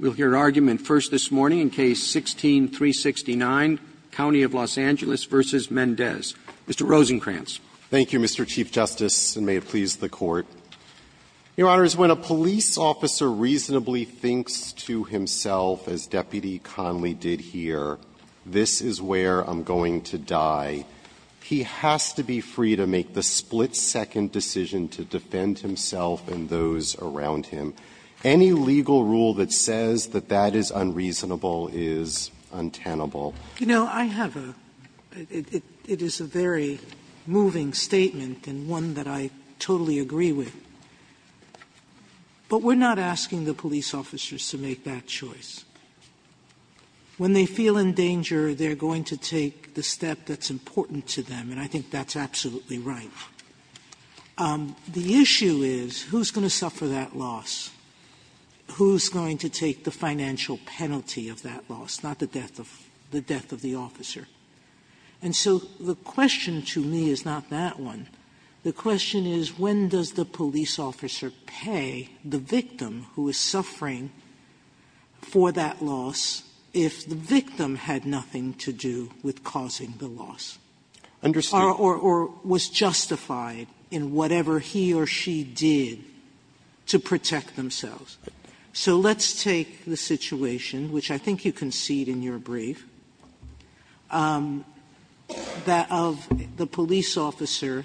We'll hear argument first this morning in Case 16-369, County of Los Angeles v. Mendez. Mr. Rosenkranz. Rosenkranz. Thank you, Mr. Chief Justice, and may it please the Court. Your Honors, when a police officer reasonably thinks to himself, as Deputy Connolly did here, this is where I'm going to die, he has to be free to make the split-second decision to defend himself and those around him. Any legal rule that says that that is unreasonable is untenable. Sotomayor, you know, I have a – it is a very moving statement and one that I totally agree with. But we're not asking the police officers to make that choice. When they feel in danger, they're going to take the step that's important to them, and I think that's absolutely right. Sotomayor, the issue is who's going to suffer that loss, who's going to take the financial penalty of that loss, not the death of – the death of the officer. And so the question to me is not that one. The question is, when does the police officer pay the victim who is suffering for that loss if the victim had nothing to do with causing the loss? Understand. Sotomayor, or was justified in whatever he or she did to protect themselves. So let's take the situation, which I think you concede in your brief, that of the police officer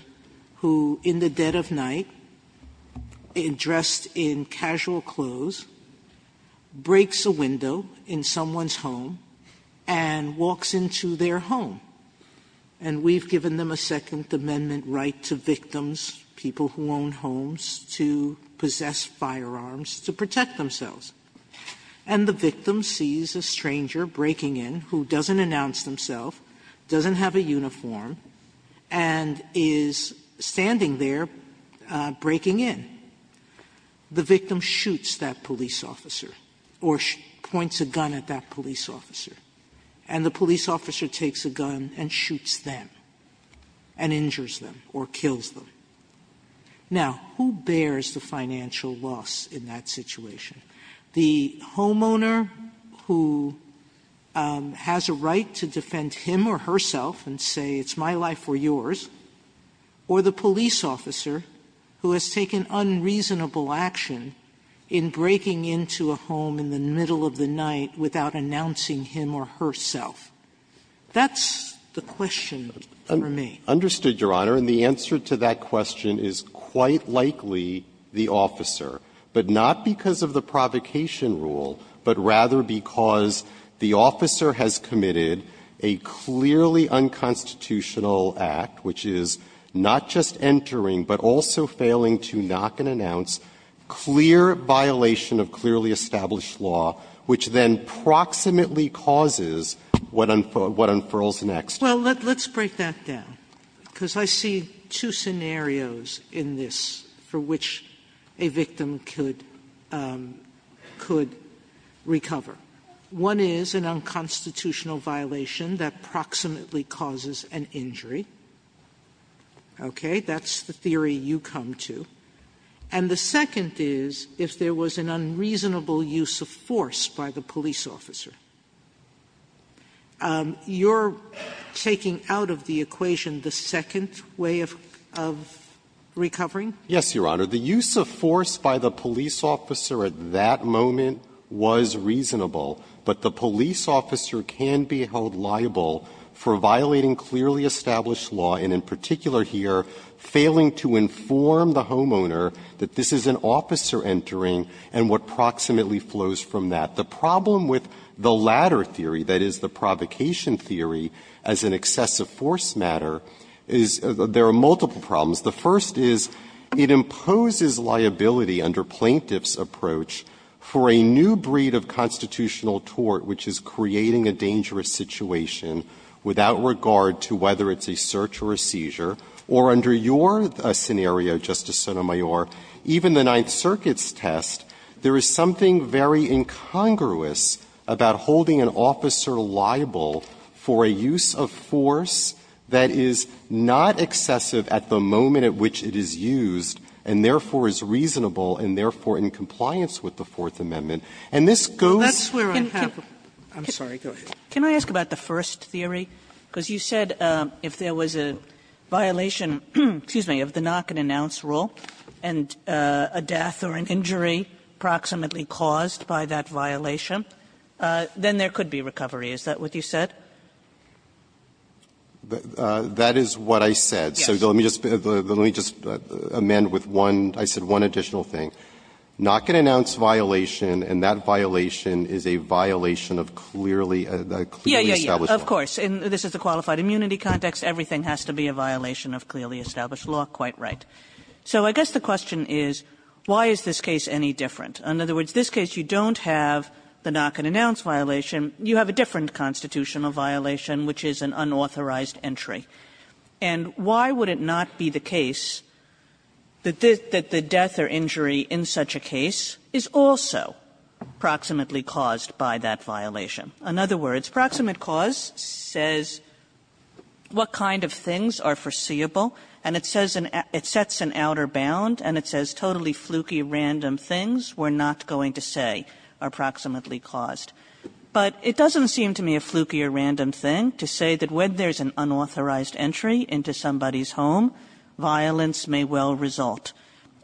who, in the dead of night, dressed in casual clothes, breaks a window in someone's home and walks into their home. And we've given them a Second Amendment right to victims, people who own homes, to possess firearms to protect themselves. And the victim sees a stranger breaking in who doesn't announce themself, doesn't have a uniform, and is standing there breaking in. The victim shoots that police officer or points a gun at that police officer. And the police officer takes a gun and shoots them and injures them or kills them. Now, who bears the financial loss in that situation? The homeowner who has a right to defend him or herself and say, it's my life or yours, or the police officer who has taken unreasonable action in breaking into a home in the homeowner's home or herself. That's the question for me. Rosenkranz. Understood, Your Honor. And the answer to that question is quite likely the officer, but not because of the provocation rule, but rather because the officer has committed a clearly unconstitutional act, which is not just entering, but also failing to knock and announce, clear violation of clearly established law, which then proximately causes what unfurls next. Well, let's break that down, because I see two scenarios in this for which a victim could recover. One is an unconstitutional violation that proximately causes an injury, okay? That's the theory you come to. And the second is if there was an unreasonable use of force by the police officer. You're taking out of the equation the second way of recovering? Yes, Your Honor. The use of force by the police officer at that moment was reasonable, but the police officer can be held liable for violating clearly established law, and in particular here, failing to inform the homeowner that this is an officer entering and what proximately flows from that. The problem with the latter theory, that is, the provocation theory as an excessive force matter, is there are multiple problems. The first is it imposes liability under plaintiff's approach for a new breed of constitutional tort, which is creating a dangerous situation without regard to whether it's a search or a seizure, or under your scenario, Justice Sotomayor, even the Ninth Circuit's test, there is something very incongruous about holding an officer liable for a use of force that is not excessive at the moment at which it is used, and therefore is reasonable, and therefore in compliance with the Fourth Amendment. And this goes to the point of the first theory, because you said if there was an unreasonable violation, excuse me, of the knock-and-announce rule, and a death or an injury proximately caused by that violation, then there could be recovery. Is that what you said? Rosenkranz, that is what I said. So let me just amend with one, I said one additional thing. Knock-and-announce violation, and that violation is a violation of clearly, a clearly established law. Kagan. Kagan. Kagan. So I guess the question is, why is this case any different? In other words, this case, you don't have the knock-and-announce violation. You have a different constitutional violation, which is an unauthorized entry. And why would it not be the case that the death or injury in such a case is also proximately caused by that violation? In other words, proximate cause says what kind of things are foreseeable, and it says an outer bound, and it says totally fluky random things we're not going to say are proximately caused. But it doesn't seem to me a fluky or random thing to say that when there's an unauthorized entry into somebody's home, violence may well result.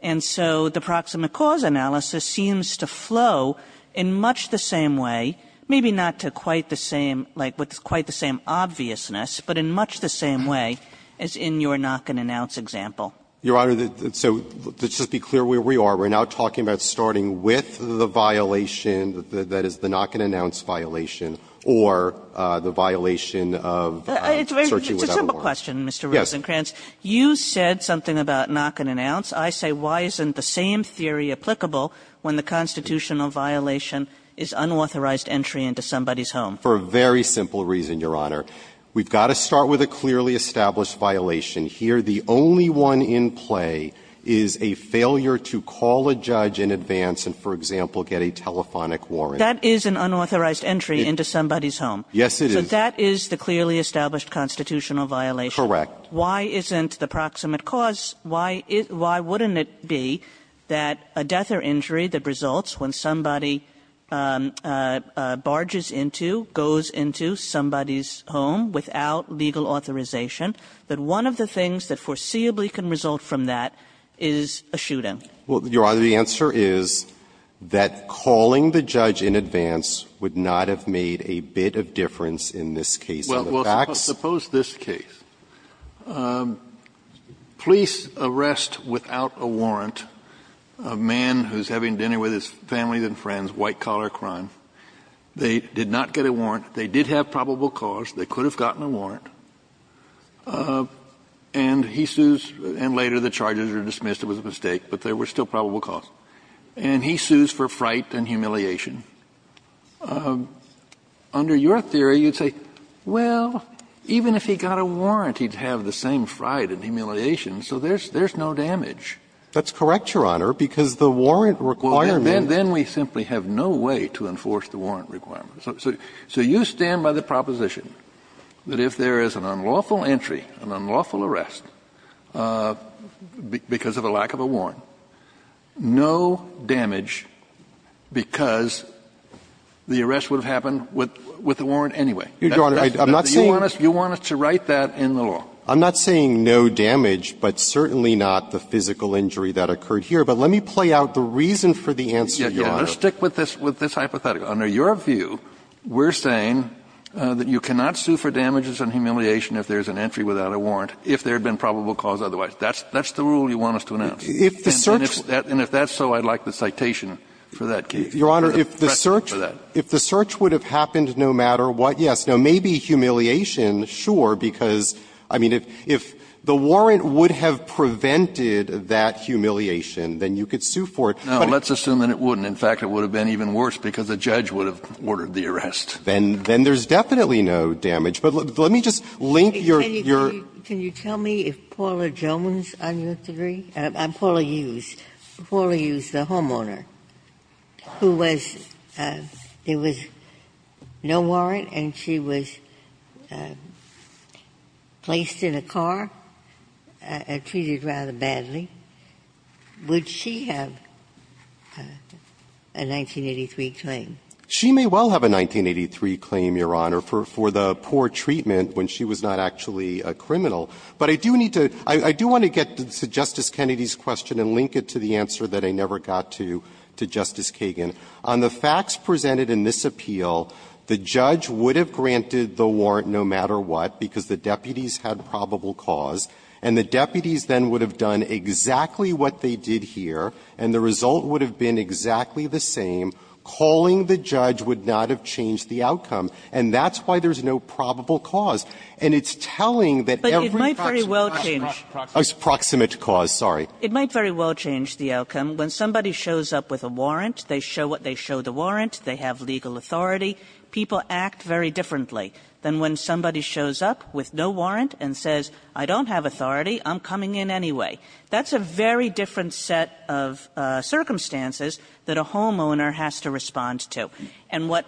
And so the proximate cause analysis seems to flow in much the same way, maybe not to quite the same, like with quite the same obviousness, but in much the same way as in your knock-and-announce example. Your Honor, so just to be clear where we are, we're now talking about starting with the violation that is the knock-and-announce violation or the violation of searching without warrant. It's a simple question, Mr. Rosenkranz. Yes. You said something about knock-and-announce. I say why isn't the same theory applicable when the constitutional violation is unauthorized entry into somebody's home? For a very simple reason, Your Honor. We've got to start with a clearly established violation. Here, the only one in play is a failure to call a judge in advance and, for example, get a telephonic warrant. That is an unauthorized entry into somebody's home. Yes, it is. So that is the clearly established constitutional violation. Correct. Why isn't the proximate cause why isn't why wouldn't it be that a death or injury that results when somebody barges into, goes into somebody's home without legal authorization, that one of the things that foreseeably can result from that is a shooting? Well, Your Honor, the answer is that calling the judge in advance would not have made a bit of difference in this case. In the facts of this case, police arrest without a warrant a man who's having dinner with his family and friends, white-collar crime. They did not get a warrant. They did have probable cause. They could have gotten a warrant. And he sues, and later the charges are dismissed, it was a mistake, but there were still probable cause. And he sues for fright and humiliation. Under your theory, you'd say, well, even if he got a warrant, he'd have the same fright and humiliation, so there's no damage. That's correct, Your Honor, because the warrant requirement. Well, then we simply have no way to enforce the warrant requirement. So you stand by the proposition that if there is an unlawful entry, an unlawful arrest, because of a lack of a warrant, no damage because the arrest would have happened with the warrant anyway. Your Honor, I'm not saying you want us to write that in the law. I'm not saying no damage, but certainly not the physical injury that occurred here. But let me play out the reason for the answer, Your Honor. Let's stick with this hypothetical. Under your view, we're saying that you cannot sue for damages and humiliation if there's an entry without a warrant if there had been probable cause otherwise. That's the rule you want us to announce. If the search And if that's so, I'd like the citation for that case. Your Honor, if the search If the search would have happened no matter what, yes. Now, maybe humiliation, sure, because, I mean, if the warrant would have prevented that humiliation, then you could sue for it. But let's assume that it wouldn't. In fact, it would have been even worse because a judge would have ordered the arrest. Then there's definitely no damage. But let me just link your Can you tell me if Paula Jones, on your theory, Paula Hughes, Paula Hughes, the homeowner, who was there was no warrant and she was placed in a car and treated rather badly, would she have a 1983 claim? She may well have a 1983 claim, Your Honor, for the poor treatment when she was not actually a criminal. But I do need to – I do want to get to Justice Kennedy's question and link it to the to Justice Kagan. On the facts presented in this appeal, the judge would have granted the warrant no matter what because the deputies had probable cause, and the deputies then would have done exactly what they did here, and the result would have been exactly the same. Calling the judge would not have changed the outcome, and that's why there's no probable cause. And it's telling that every – Kagan But it might very well change – Proximate cause, sorry. It might very well change the outcome. When somebody shows up with a warrant, they show the warrant, they have legal authority. People act very differently than when somebody shows up with no warrant and says, I don't have authority, I'm coming in anyway. That's a very different set of circumstances that a homeowner has to respond to. And what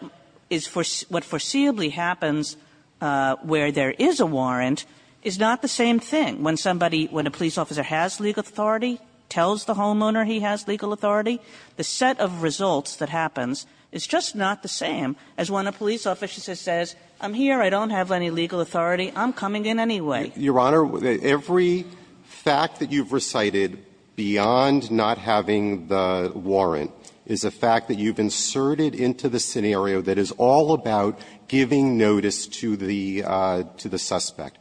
is – what foreseeably happens where there is a warrant is not the same thing. When somebody – when a police officer has legal authority, tells the homeowner he has legal authority, the set of results that happens is just not the same as when a police officer says, I'm here, I don't have any legal authority, I'm coming in anyway. Rosenkranz Your Honor, every fact that you've recited beyond not having the warrant is a fact that you've inserted into the scenario that is all about giving notice to the – to the suspect.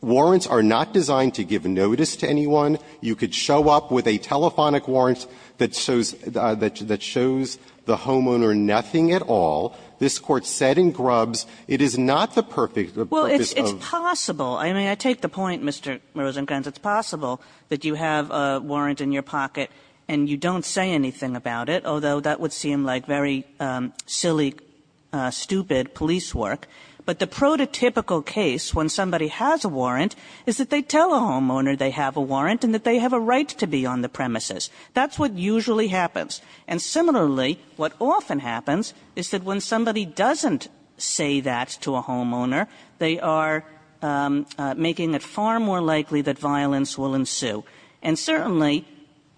Warrants are not designed to give notice to anyone. You could show up with a telephonic warrant that shows – that shows the homeowner nothing at all. This Court said in Grubbs, it is not the perfect – the purpose of the warrant. Kagan Well, it's possible. I mean, I take the point, Mr. Rosenkranz. It's possible that you have a warrant in your pocket, and you don't say anything about it, although that would seem like very silly, stupid police work. But the prototypical case, when somebody has a warrant, is that they tell a homeowner they have a warrant and that they have a right to be on the premises. That's what usually happens. And similarly, what often happens is that when somebody doesn't say that to a homeowner, they are making it far more likely that violence will ensue. And certainly,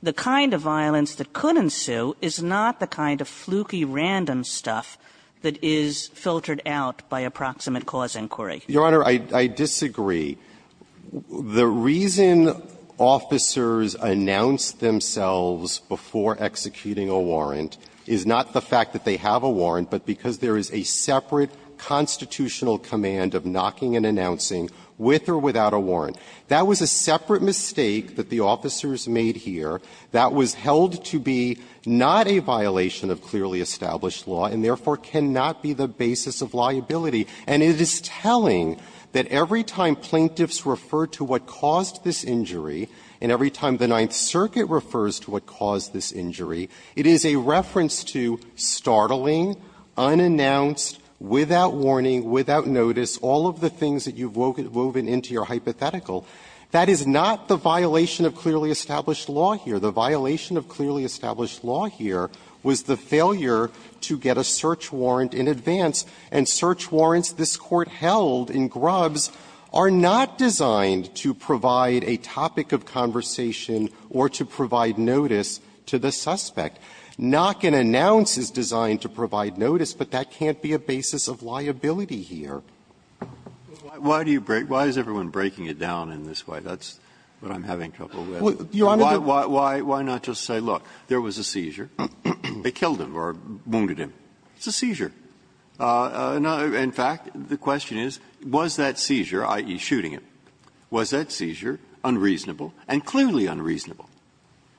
the kind of violence that could ensue is not the kind of fluky, random stuff that is filtered out by approximate cause inquiry. Rosenkranz Your Honor, I disagree. The reason officers announce themselves before executing a warrant is not the fact that they have a warrant, but because there is a separate constitutional command of knocking and announcing, with or without a warrant. That was a separate mistake that the officers made here that was held to be not a violation of clearly established law, and therefore cannot be the basis of liability. And it is telling that every time plaintiffs refer to what caused this injury, and every time the Ninth Circuit refers to what caused this injury, it is a reference to startling, unannounced, without warning, without notice, all of the things that you've woven into your hypothetical. That is not the violation of clearly established law here. The violation of clearly established law here was the failure to get a search warrant in advance, and search warrants this Court held in Grubbs are not designed to provide a topic of conversation or to provide notice to the suspect. Knock and announce is designed to provide notice, but that can't be a basis of liability here. Breyer Why do you break why is everyone breaking it down in this way? That's what I'm having trouble with. Rosenkranz Why not just say, look, there was a seizure. They killed him or wounded him. It's a seizure. In fact, the question is, was that seizure, i.e., shooting him, was that seizure unreasonable and clearly unreasonable?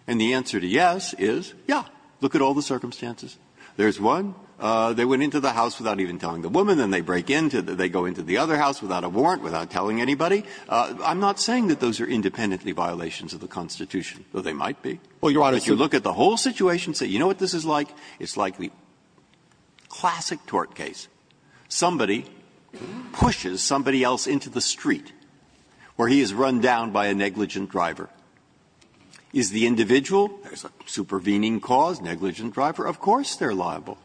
And the answer to yes is, yeah, look at all the circumstances. There's one, they went into the house without even telling the woman, then they break in, they go into the other house without a warrant, without telling anybody. I'm not saying that those are independently violations of the Constitution, though they might be. If you look at the whole situation and say, you know what this is like? It's like the classic tort case. Somebody pushes somebody else into the street, or he is run down by a negligent driver. Is the individual, there's a supervening cause, negligent driver, of course they're liable,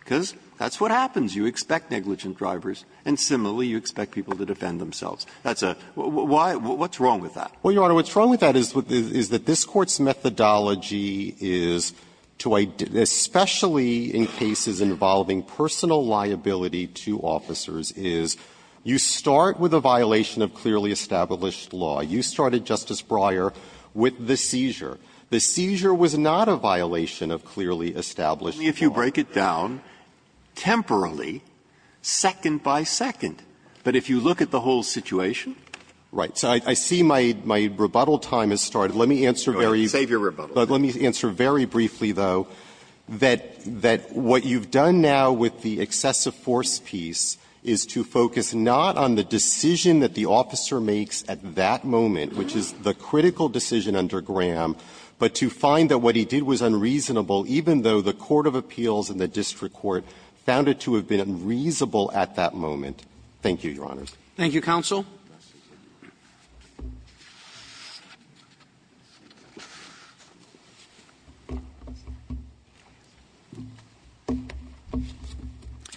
because that's what happens. You expect negligent drivers, and similarly you expect people to defend themselves. That's a why what's wrong with that? Well, Your Honor, what's wrong with that is that this Court's methodology is to, especially in cases involving personal liability to officers, is you start with a violation of clearly established law. You started, Justice Breyer, with the seizure. The seizure was not a violation of clearly established law. Breyer, if you break it down, temporarily, second by second, but if you look at the whole situation. Right. So I see my rebuttal time has started. Let me answer very briefly, though, that what you've done now with the excessive force piece is to focus not on the decision that the officer makes at that moment, which is the critical decision under Graham, but to find that what he did was unreasonable, even though the court of appeals and the district court found it to have been unreasonable at that moment. Thank you, Your Honor. Roberts. Thank you, counsel.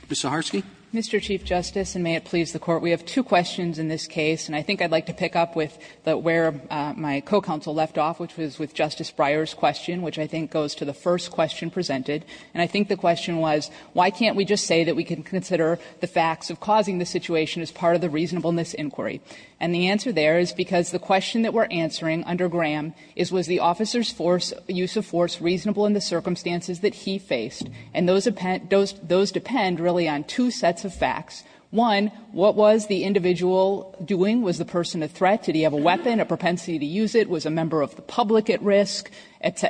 Ms. Zaharsky. Mr. Chief Justice, and may it please the Court, we have two questions in this case, and I think I'd like to pick up with where my co-counsel left off, which was with Justice Breyer's question, which I think goes to the first question presented. And I think the question was, why can't we just say that we can consider the facts of causing the situation as part of the reasonableness inquiry? And the answer there is because the question that we're answering under Graham is, was the officer's force, use of force, reasonable in the circumstances that he faced? And those depend really on two sets of facts. One, what was the individual doing? Was the person a threat? Did he have a weapon, a propensity to use it? Was a member of the public at risk?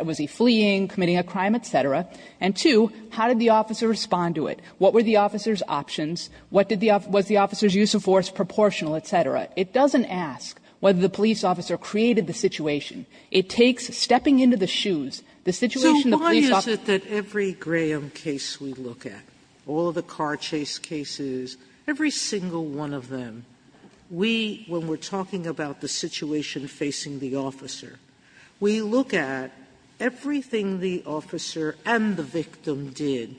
Was he fleeing, committing a crime, et cetera? And two, how did the officer respond to it? What were the officer's options? What did the off the officer's use of force proportional, et cetera? It doesn't ask whether the police officer created the situation. It takes stepping into the shoes, the situation the police officer. Sotomayor, so why is it that every Graham case we look at, all the car chase cases, every single one of them, we, when we're talking about the situation facing the officer, we look at everything the officer and the victim did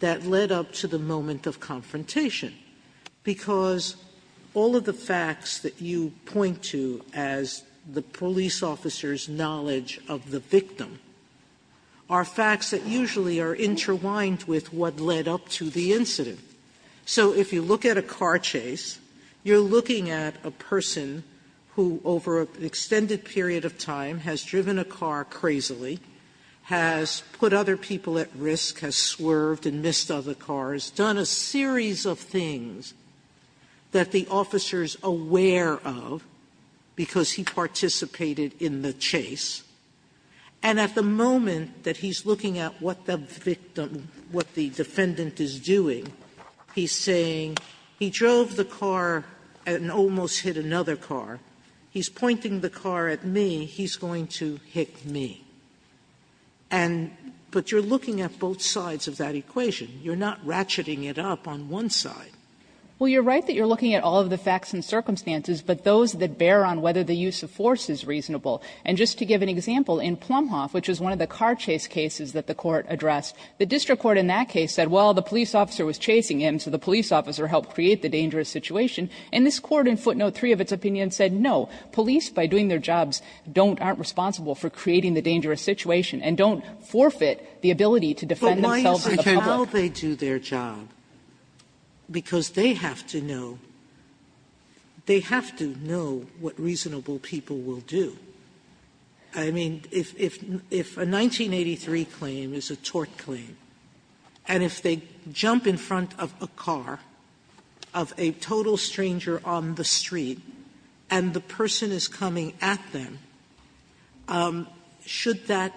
that led up to the moment of confrontation, because all of the facts that you point to as the police officer's knowledge of the victim are facts that usually are interwined with what led up to the incident. So if you look at a car chase, you're looking at a person who, over an extended period of time, has driven a car crazily, has put other people at risk, has swerved and missed other cars, done a series of things that the officer's aware of, because he participated in the chase. And at the moment that he's looking at what the victim, what the defendant is doing, he's saying, he drove the car and almost hit another car. He's pointing the car at me, he's going to hit me. And but you're looking at both sides of that equation. You're not ratcheting it up on one side. Well, you're right that you're looking at all of the facts and circumstances, but those that bear on whether the use of force is reasonable. And just to give an example, in Plumhoff, which was one of the car chase cases that the Court addressed, the district court in that case said, well, the police officer was chasing him, so the police officer helped create the dangerous situation. And this Court in footnote 3 of its opinion said, no, police, by doing their jobs, don't, aren't responsible for creating the dangerous situation, and don't forfeit the ability to defend themselves in the public. Sotomayor, but why is it how they do their job? Because they have to know, they have to know what reasonable people will do. I mean, if a 1983 claim is a tort claim, and if they jump in front of a car, of a total stranger, on the street, and the person is coming at them, should that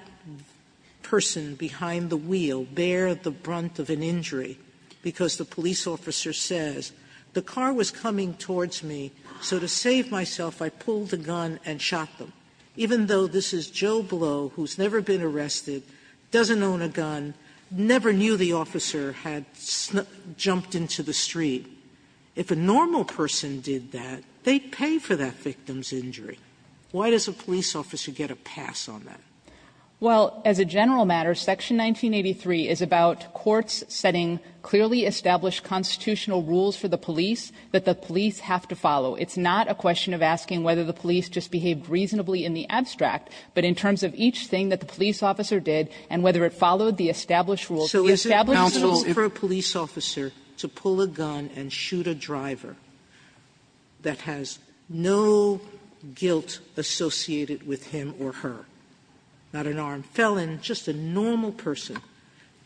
person behind the wheel bear the brunt of an injury? Because the police officer says, the car was coming towards me, so to save myself, I pulled a gun and shot them. Even though this is Joe Blow, who has never been arrested, doesn't own a gun, never knew the officer had jumped into the street. If a normal person did that, they'd pay for that victim's injury. Why does a police officer get a pass on that? Saharsky, it's not a question of asking whether the police just behaved reasonably in the abstract, but in terms of each thing that the police officer did and whether it followed the established rules, the established rules for a police officer to pull a gun and shoot a driver that has no guilt associated with him or her. Not an armed felon, just a normal person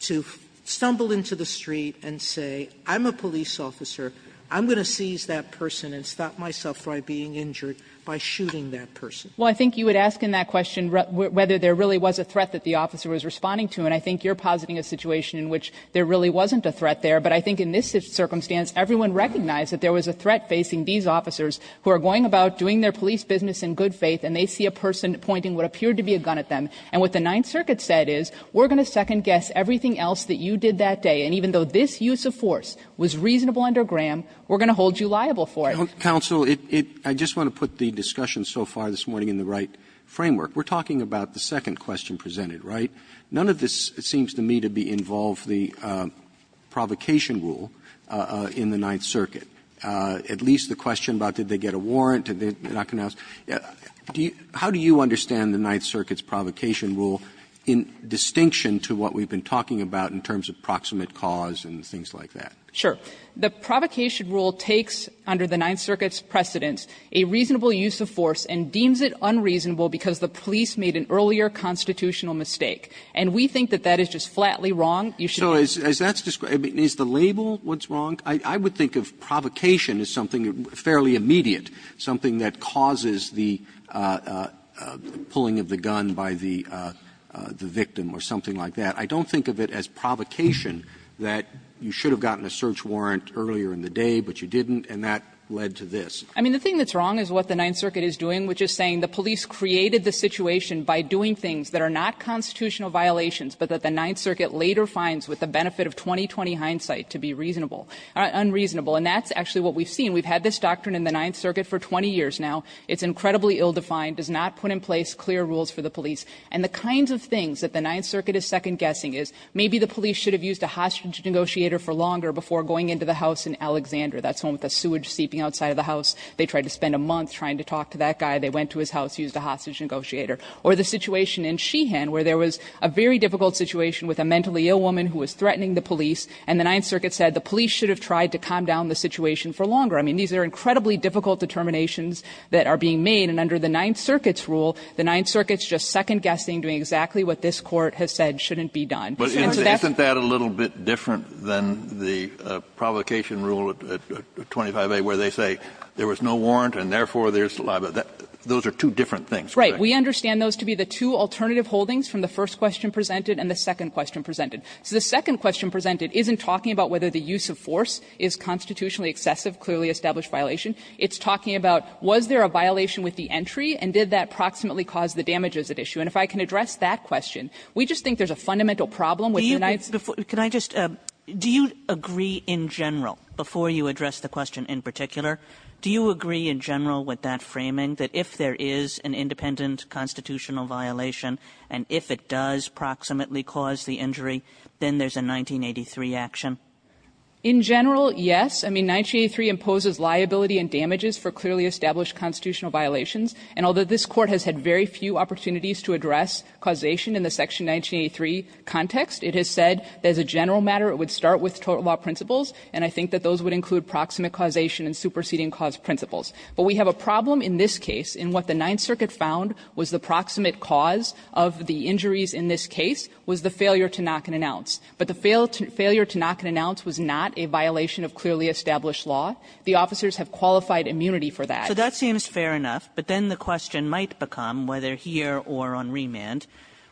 to stumble into the street and say, I'm a police officer, I'm going to seize that person and stop myself from being injured by shooting that person. Well, I think you would ask in that question whether there really was a threat that the officer was responding to. And I think you're positing a situation in which there really wasn't a threat there. But I think in this circumstance, everyone recognized that there was a threat facing these officers who are going about doing their police business in good faith and they see a person pointing what appeared to be a gun at them. And what the Ninth Circuit said is, we're going to second-guess everything else that you did that day. And even though this use of force was reasonable under Graham, we're going to hold you liable for it. Roberts, I just want to put the discussion so far this morning in the right framework. We're talking about the second question presented, right? None of this seems to me to be involved, the provocation rule in the Ninth Circuit. At least the question about did they get a warrant, did they not get a warrant. How do you understand the Ninth Circuit's provocation rule in distinction to what we've been talking about in terms of proximate cause and things like that? Sure. The provocation rule takes under the Ninth Circuit's precedence a reasonable use of force and deems it unreasonable because the police made an earlier constitutional mistake. And we think that that is just flatly wrong. You should be able to do that. Roberts, so is that's the label what's wrong? I would think of provocation as something fairly immediate, something that causes the pulling of the gun by the victim or something like that. I don't think of it as provocation that you should have gotten a search warrant earlier in the day, but you didn't, and that led to this. I mean, the thing that's wrong is what the Ninth Circuit is doing, which is saying the police created the situation by doing things that are not constitutional violations, but that the Ninth Circuit later finds with the benefit of 20-20 hindsight to be reasonable, unreasonable. And that's actually what we've seen. We've had this doctrine in the Ninth Circuit for 20 years now. It's incredibly ill-defined, does not put in place clear rules for the police. And the kinds of things that the Ninth Circuit is second-guessing is maybe the police should have used a hostage negotiator for longer before going into the house in Alexander. That's the one with the sewage seeping outside of the house. They tried to spend a month trying to talk to that guy. They went to his house, used a hostage negotiator. Or the situation in Sheehan, where there was a very difficult situation with a mentally ill woman who was threatening the police, and the Ninth Circuit said the police should have tried to calm down the situation for longer. I mean, these are incredibly difficult determinations that are being made, and under the Ninth Circuit's rule, the Ninth Circuit's just second-guessing, doing exactly what this Court has said shouldn't be done. Kennedy, and so that's why I'm saying that. Kennedy, but isn't that a little bit different than the provocation rule at 25a, where they say there was no warrant and, therefore, there's saliva? Those are two different things, correct? Right. We understand those to be the two alternative holdings from the first question presented and the second question presented. So the second question presented isn't talking about whether the use of force is constitutionally excessive, clearly established violation. It's talking about was there a violation with the entry, and did that proximately cause the damages at issue. And if I can address that question, we just think there's a fundamental problem with the Ninth Circuit. Kagan, can I just ask, do you agree in general, before you address the question in particular, do you agree in general with that framing, that if there is an independent constitutional violation, and if it does proximately cause the injury, then there's a 1983 action? In general, yes. I mean, 1983 imposes liability and damages for clearly established constitutional violations, and although this Court has had very few opportunities to address causation in the section 1983 context, it has said that as a general matter, it would start with total law principles, and I think that those would include proximate causation and superseding cause principles. But we have a problem in this case in what the Ninth Circuit found was the proximate cause of the injuries in this case was the failure to knock an ounce. But the failure to knock an ounce was not a violation of clearly established law. The officers have qualified immunity for that. So that seems fair enough, but then the question might become, whether here or on remand,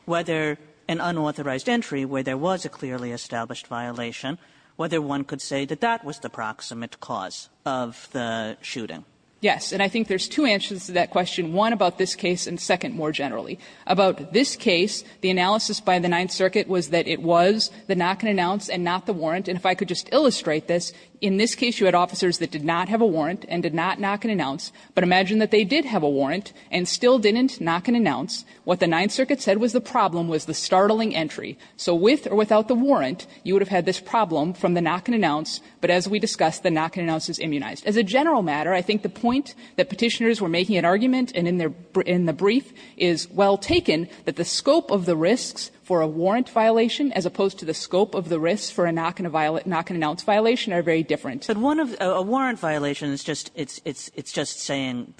whether an unauthorized entry where there was a clearly established violation, whether one could say that that was the proximate cause of the shooting. Yes. And I think there's two answers to that question, one about this case, and second more generally. About this case, the analysis by the Ninth Circuit was that it was the knock-an-ounce and not the warrant. And if I could just illustrate this, in this case you had officers that did not have a warrant and did not knock an ounce, but imagine that they did have a warrant and still didn't knock an ounce. What the Ninth Circuit said was the problem was the startling entry. So with or without the warrant, you would have had this problem from the knock-an-ounce, but as we discussed, the knock-an-ounce is immunized. As a general matter, I think the point that Petitioners were making in argument and in the brief is well taken, that the scope of the risks for a warrant violation as opposed to the scope of the risks for a knock-an-ounce violation are very different. Kagan. Kagan. Kagan. But one of the warrant violations, it's just saying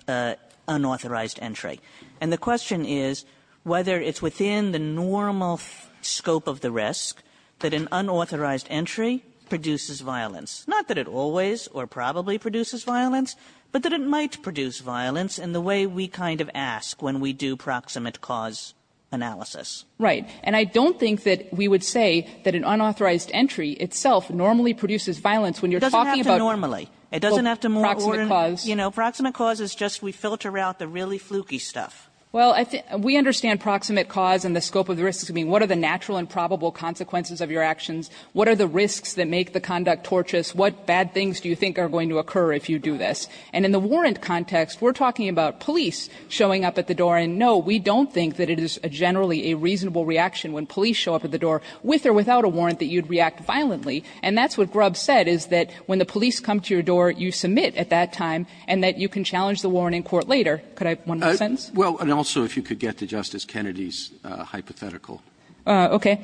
unauthorized entry, and the question is whether it's within the normal scope of the risk that an unauthorized entry produces violence, not that it always or probably produces violence, but that it might produce violence in the way we kind of ask when we do proximate cause analysis. Right. And I don't think that we would say that an unauthorized entry itself normally produces violence when you're talking about proximate cause. It doesn't have to normally. It doesn't have to more ordinary. You know, proximate cause is just we filter out the really fluky stuff. Well, I think we understand proximate cause and the scope of the risks. I mean, what are the natural and probable consequences of your actions? What are the risks that make the conduct tortuous? What bad things do you think are going to occur if you do this? And in the warrant context, we're talking about police showing up at the door. And no, we don't think that it is generally a reasonable reaction when police show up at the door with or without a warrant that you'd react violently. And that's what Grubb said, is that when the police come to your door, you submit at that time and that you can challenge the warrant in court later. Could I have one more sentence? Well, and also if you could get to Justice Kennedy's hypothetical. Okay.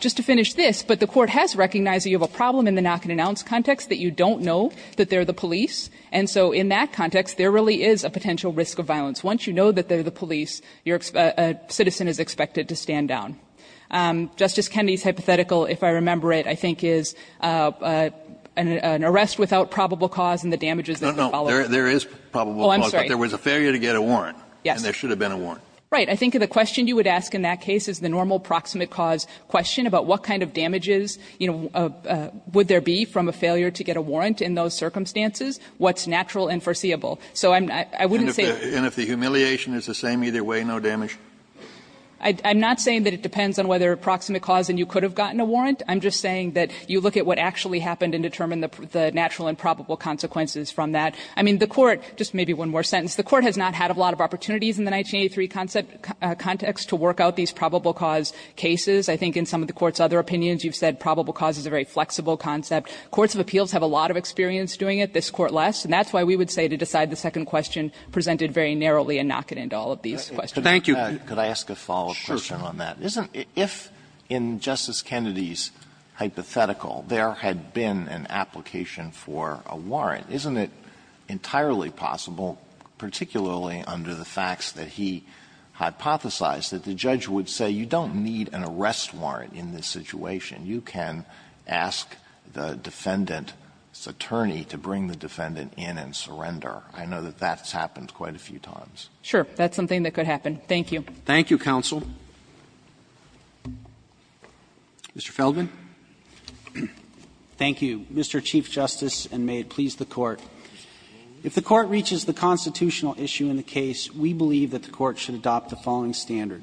Just to finish this, but the Court has recognized that you have a problem in the knock-and-announce context that you don't know that they're the police. And so in that context, there really is a potential risk of violence. Once you know that they're the police, your citizen is expected to stand down. Justice Kennedy's hypothetical, if I remember it, I think is an arrest without probable cause and the damages that would follow. No, no. There is probable cause. Oh, I'm sorry. But there was a failure to get a warrant. Yes. And there should have been a warrant. Right. I think the question you would ask in that case is the normal proximate cause question about what kind of damages, you know, would there be from a failure to get a warrant in those circumstances, what's natural and foreseeable. So I'm not going to say that. And if the humiliation is the same either way, no damage? I'm not saying that it depends on whether proximate cause and you could have gotten a warrant. I'm just saying that you look at what actually happened and determine the natural and probable consequences from that. I mean, the Court, just maybe one more sentence, the Court has not had a lot of opportunities in the 1983 context to work out these probable cause cases. I think in some of the Court's other opinions, you've said probable cause is a very flexible concept. Courts of appeals have a lot of experience doing it. This Court less. And that's why we would say to decide the second question presented very narrowly and knock it into all of these questions. Thank you. Alito, could I ask a follow-up question on that? If in Justice Kennedy's hypothetical, there had been an application for a warrant, isn't it entirely possible, particularly under the facts that he hypothesized, that the judge would say you don't need an arrest warrant in this situation? You can ask the defendant's attorney to bring the defendant in and surrender. I know that that's happened quite a few times. Sure. That's something that could happen. Thank you. Thank you, counsel. Mr. Feldman. Thank you, Mr. Chief Justice, and may it please the Court. If the Court reaches the constitutional issue in the case, we believe that the Court should adopt the following standard.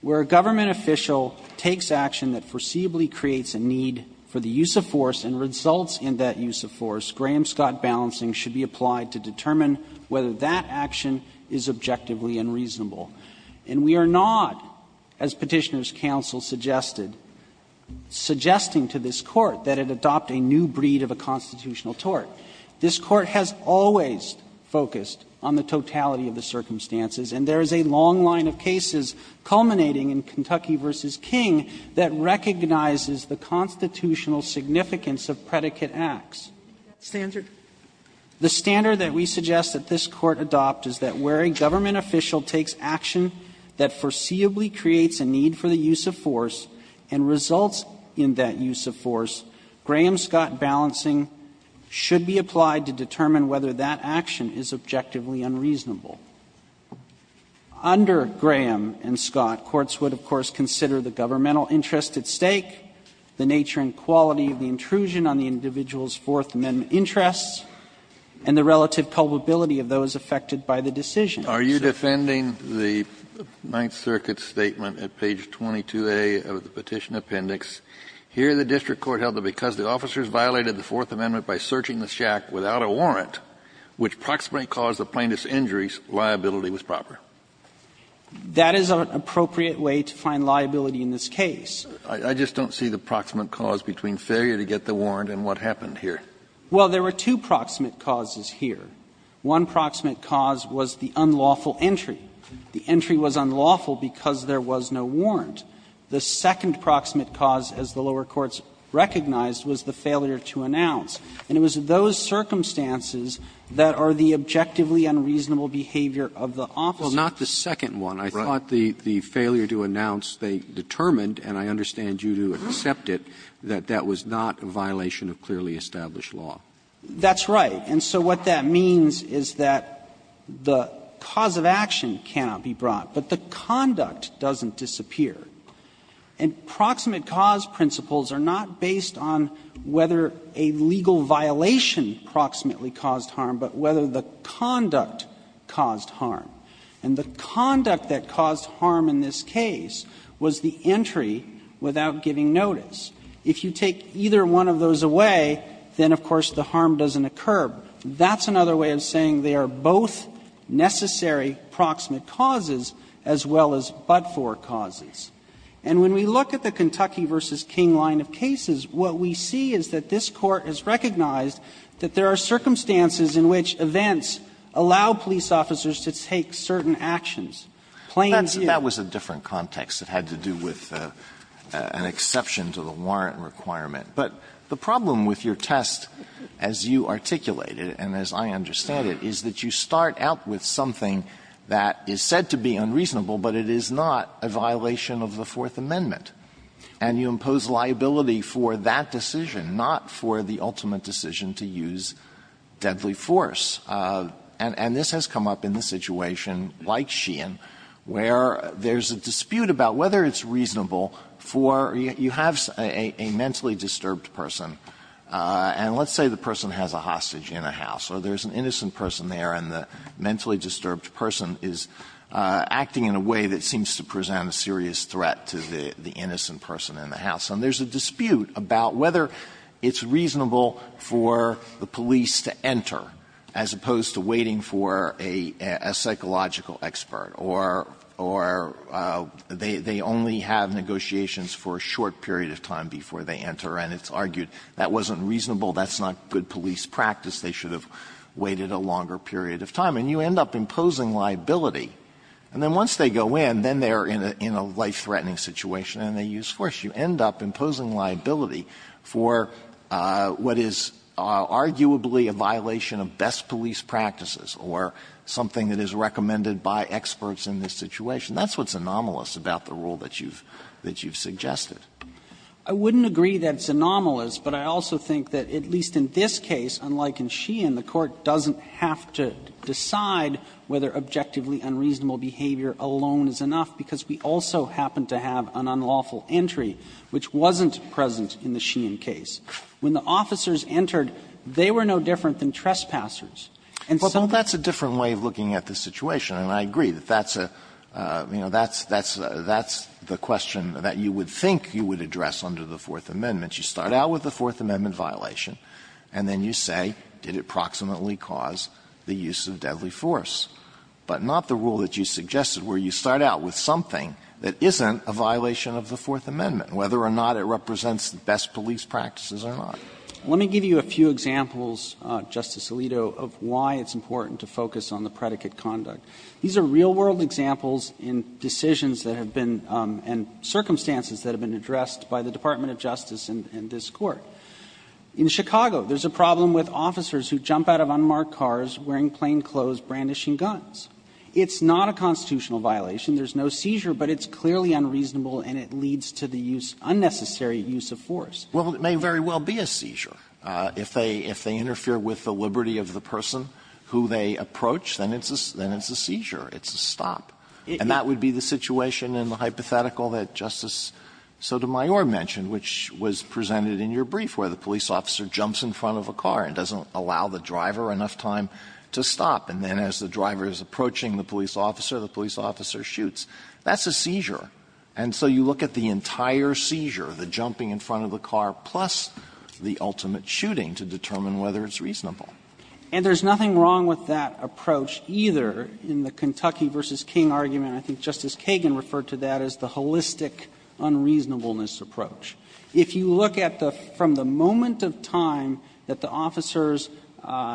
Where a government official takes action that foreseeably creates a need for the use of force and results in that use of force, Graham-Scott balancing should be applied to determine whether that action is objectively unreasonable. And we are not, as Petitioner's counsel suggested, suggesting to this Court that it adopt a new breed of a constitutional tort. This Court has always focused on the totality of the circumstances, and there is a long line of cases culminating in Kentucky v. King that recognizes the constitutional significance of predicate acts. And that standard? The standard that we suggest that this Court adopt is that where a government official takes action that foreseeably creates a need for the use of force and results in that use of force, Graham-Scott balancing should be applied to determine whether that action is objectively unreasonable. Under Graham and Scott, courts would, of course, consider the governmental interest at stake, the nature and quality of the intrusion on the individual's Fourth Amendment interests, and the relative probability of those affected by the decision. Kennedy, are you defending the Ninth Circuit's statement at page 22a of the Petition Appendix? Here the district court held that because the officers violated the Fourth Amendment by searching the shack without a warrant, which proximately caused the plaintiff's injuries, liability was proper. That is an appropriate way to find liability in this case. I just don't see the proximate cause between failure to get the warrant and what happened here. Well, there were two proximate causes here. One proximate cause was the unlawful entry. The entry was unlawful because there was no warrant. The second proximate cause, as the lower courts recognized, was the failure to announce. And it was those circumstances that are the objectively unreasonable behavior of the officer. Roberts, Well, not the second one. I thought the failure to announce, they determined, and I understand you do accept it, that that was not a violation of clearly established law. That's right. And so what that means is that the cause of action cannot be brought, but the conduct doesn't disappear. And proximate cause principles are not based on whether a legal violation proximately caused harm, but whether the conduct caused harm. And the conduct that caused harm in this case was the entry without giving notice. If you take either one of those away, then, of course, the harm doesn't occur. That's another way of saying they are both necessary proximate causes as well as but-for causes. And when we look at the Kentucky v. King line of cases, what we see is that this Court has recognized that there are circumstances in which events allow police officers to take certain actions, plain view. Alito, that was a different context. It had to do with an exception to the warrant requirement. But the problem with your test, as you articulated and as I understand it, is that you start out with something that is said to be unreasonable, but it is not a violation of the Fourth Amendment. And you impose liability for that decision, not for the ultimate decision to use deadly force. And this has come up in the situation like Sheehan, where there's a dispute about whether it's reasonable for you have a mentally disturbed person, and let's say the person has a hostage in a house, or there's an innocent person there and the mentally disturbed person is acting in a way that seems to present a serious threat to the innocent person in the house. And there's a dispute about whether it's reasonable for the police to enter, as opposed to waiting for a psychological expert, or they only have negotiations for a short period of time before they enter, and it's argued that wasn't reasonable, that's not good police practice, they should have waited a longer period of time. And you end up imposing liability, and then once they go in, then they're in a life-threatening situation and they use force. You end up imposing liability for what is arguably a violation of best police practices or something that is recommended by experts in this situation. That's what's anomalous about the rule that you've suggested. I wouldn't agree that it's anomalous, but I also think that at least in this case, unlike in Sheehan, the Court doesn't have to decide whether objectively unreasonable behavior alone is enough, because we also happen to have an unlawful entry which wasn't present in the Sheehan case. When the officers entered, they were no different than trespassers. And so that's a different way of looking at the situation, and I agree that that's a, you know, that's the question that you would think you would address under the Fourth Amendment. You start out with the Fourth Amendment violation, and then you say, did it proximately cause the use of deadly force? But not the rule that you suggested, where you start out with something that isn't a violation of the Fourth Amendment, whether or not it represents the best police practices or not. Let me give you a few examples, Justice Alito, of why it's important to focus on the predicate conduct. These are real-world examples in decisions that have been, and circumstances that have been addressed by the Department of Justice and this Court. In Chicago, there's a problem with officers who jump out of unmarked cars wearing plainclothes brandishing guns. It's not a constitutional violation. There's no seizure, but it's clearly unreasonable and it leads to the use, unnecessary use of force. Alito, it may very well be a seizure. If they interfere with the liberty of the person who they approach, then it's a seizure. It's a stop. And that would be the situation in the hypothetical that Justice Sotomayor mentioned, which was presented in your brief, where the police officer jumps in front of a car and doesn't allow the driver enough time to stop. And then as the driver is approaching the police officer, the police officer shoots. That's a seizure. And so you look at the entire seizure, the jumping in front of the car, plus the ultimate shooting, to determine whether it's reasonable. And there's nothing wrong with that approach either in the Kentucky v. King argument. I think Justice Kagan referred to that as the holistic unreasonableness approach. If you look at the from the moment of time that the officers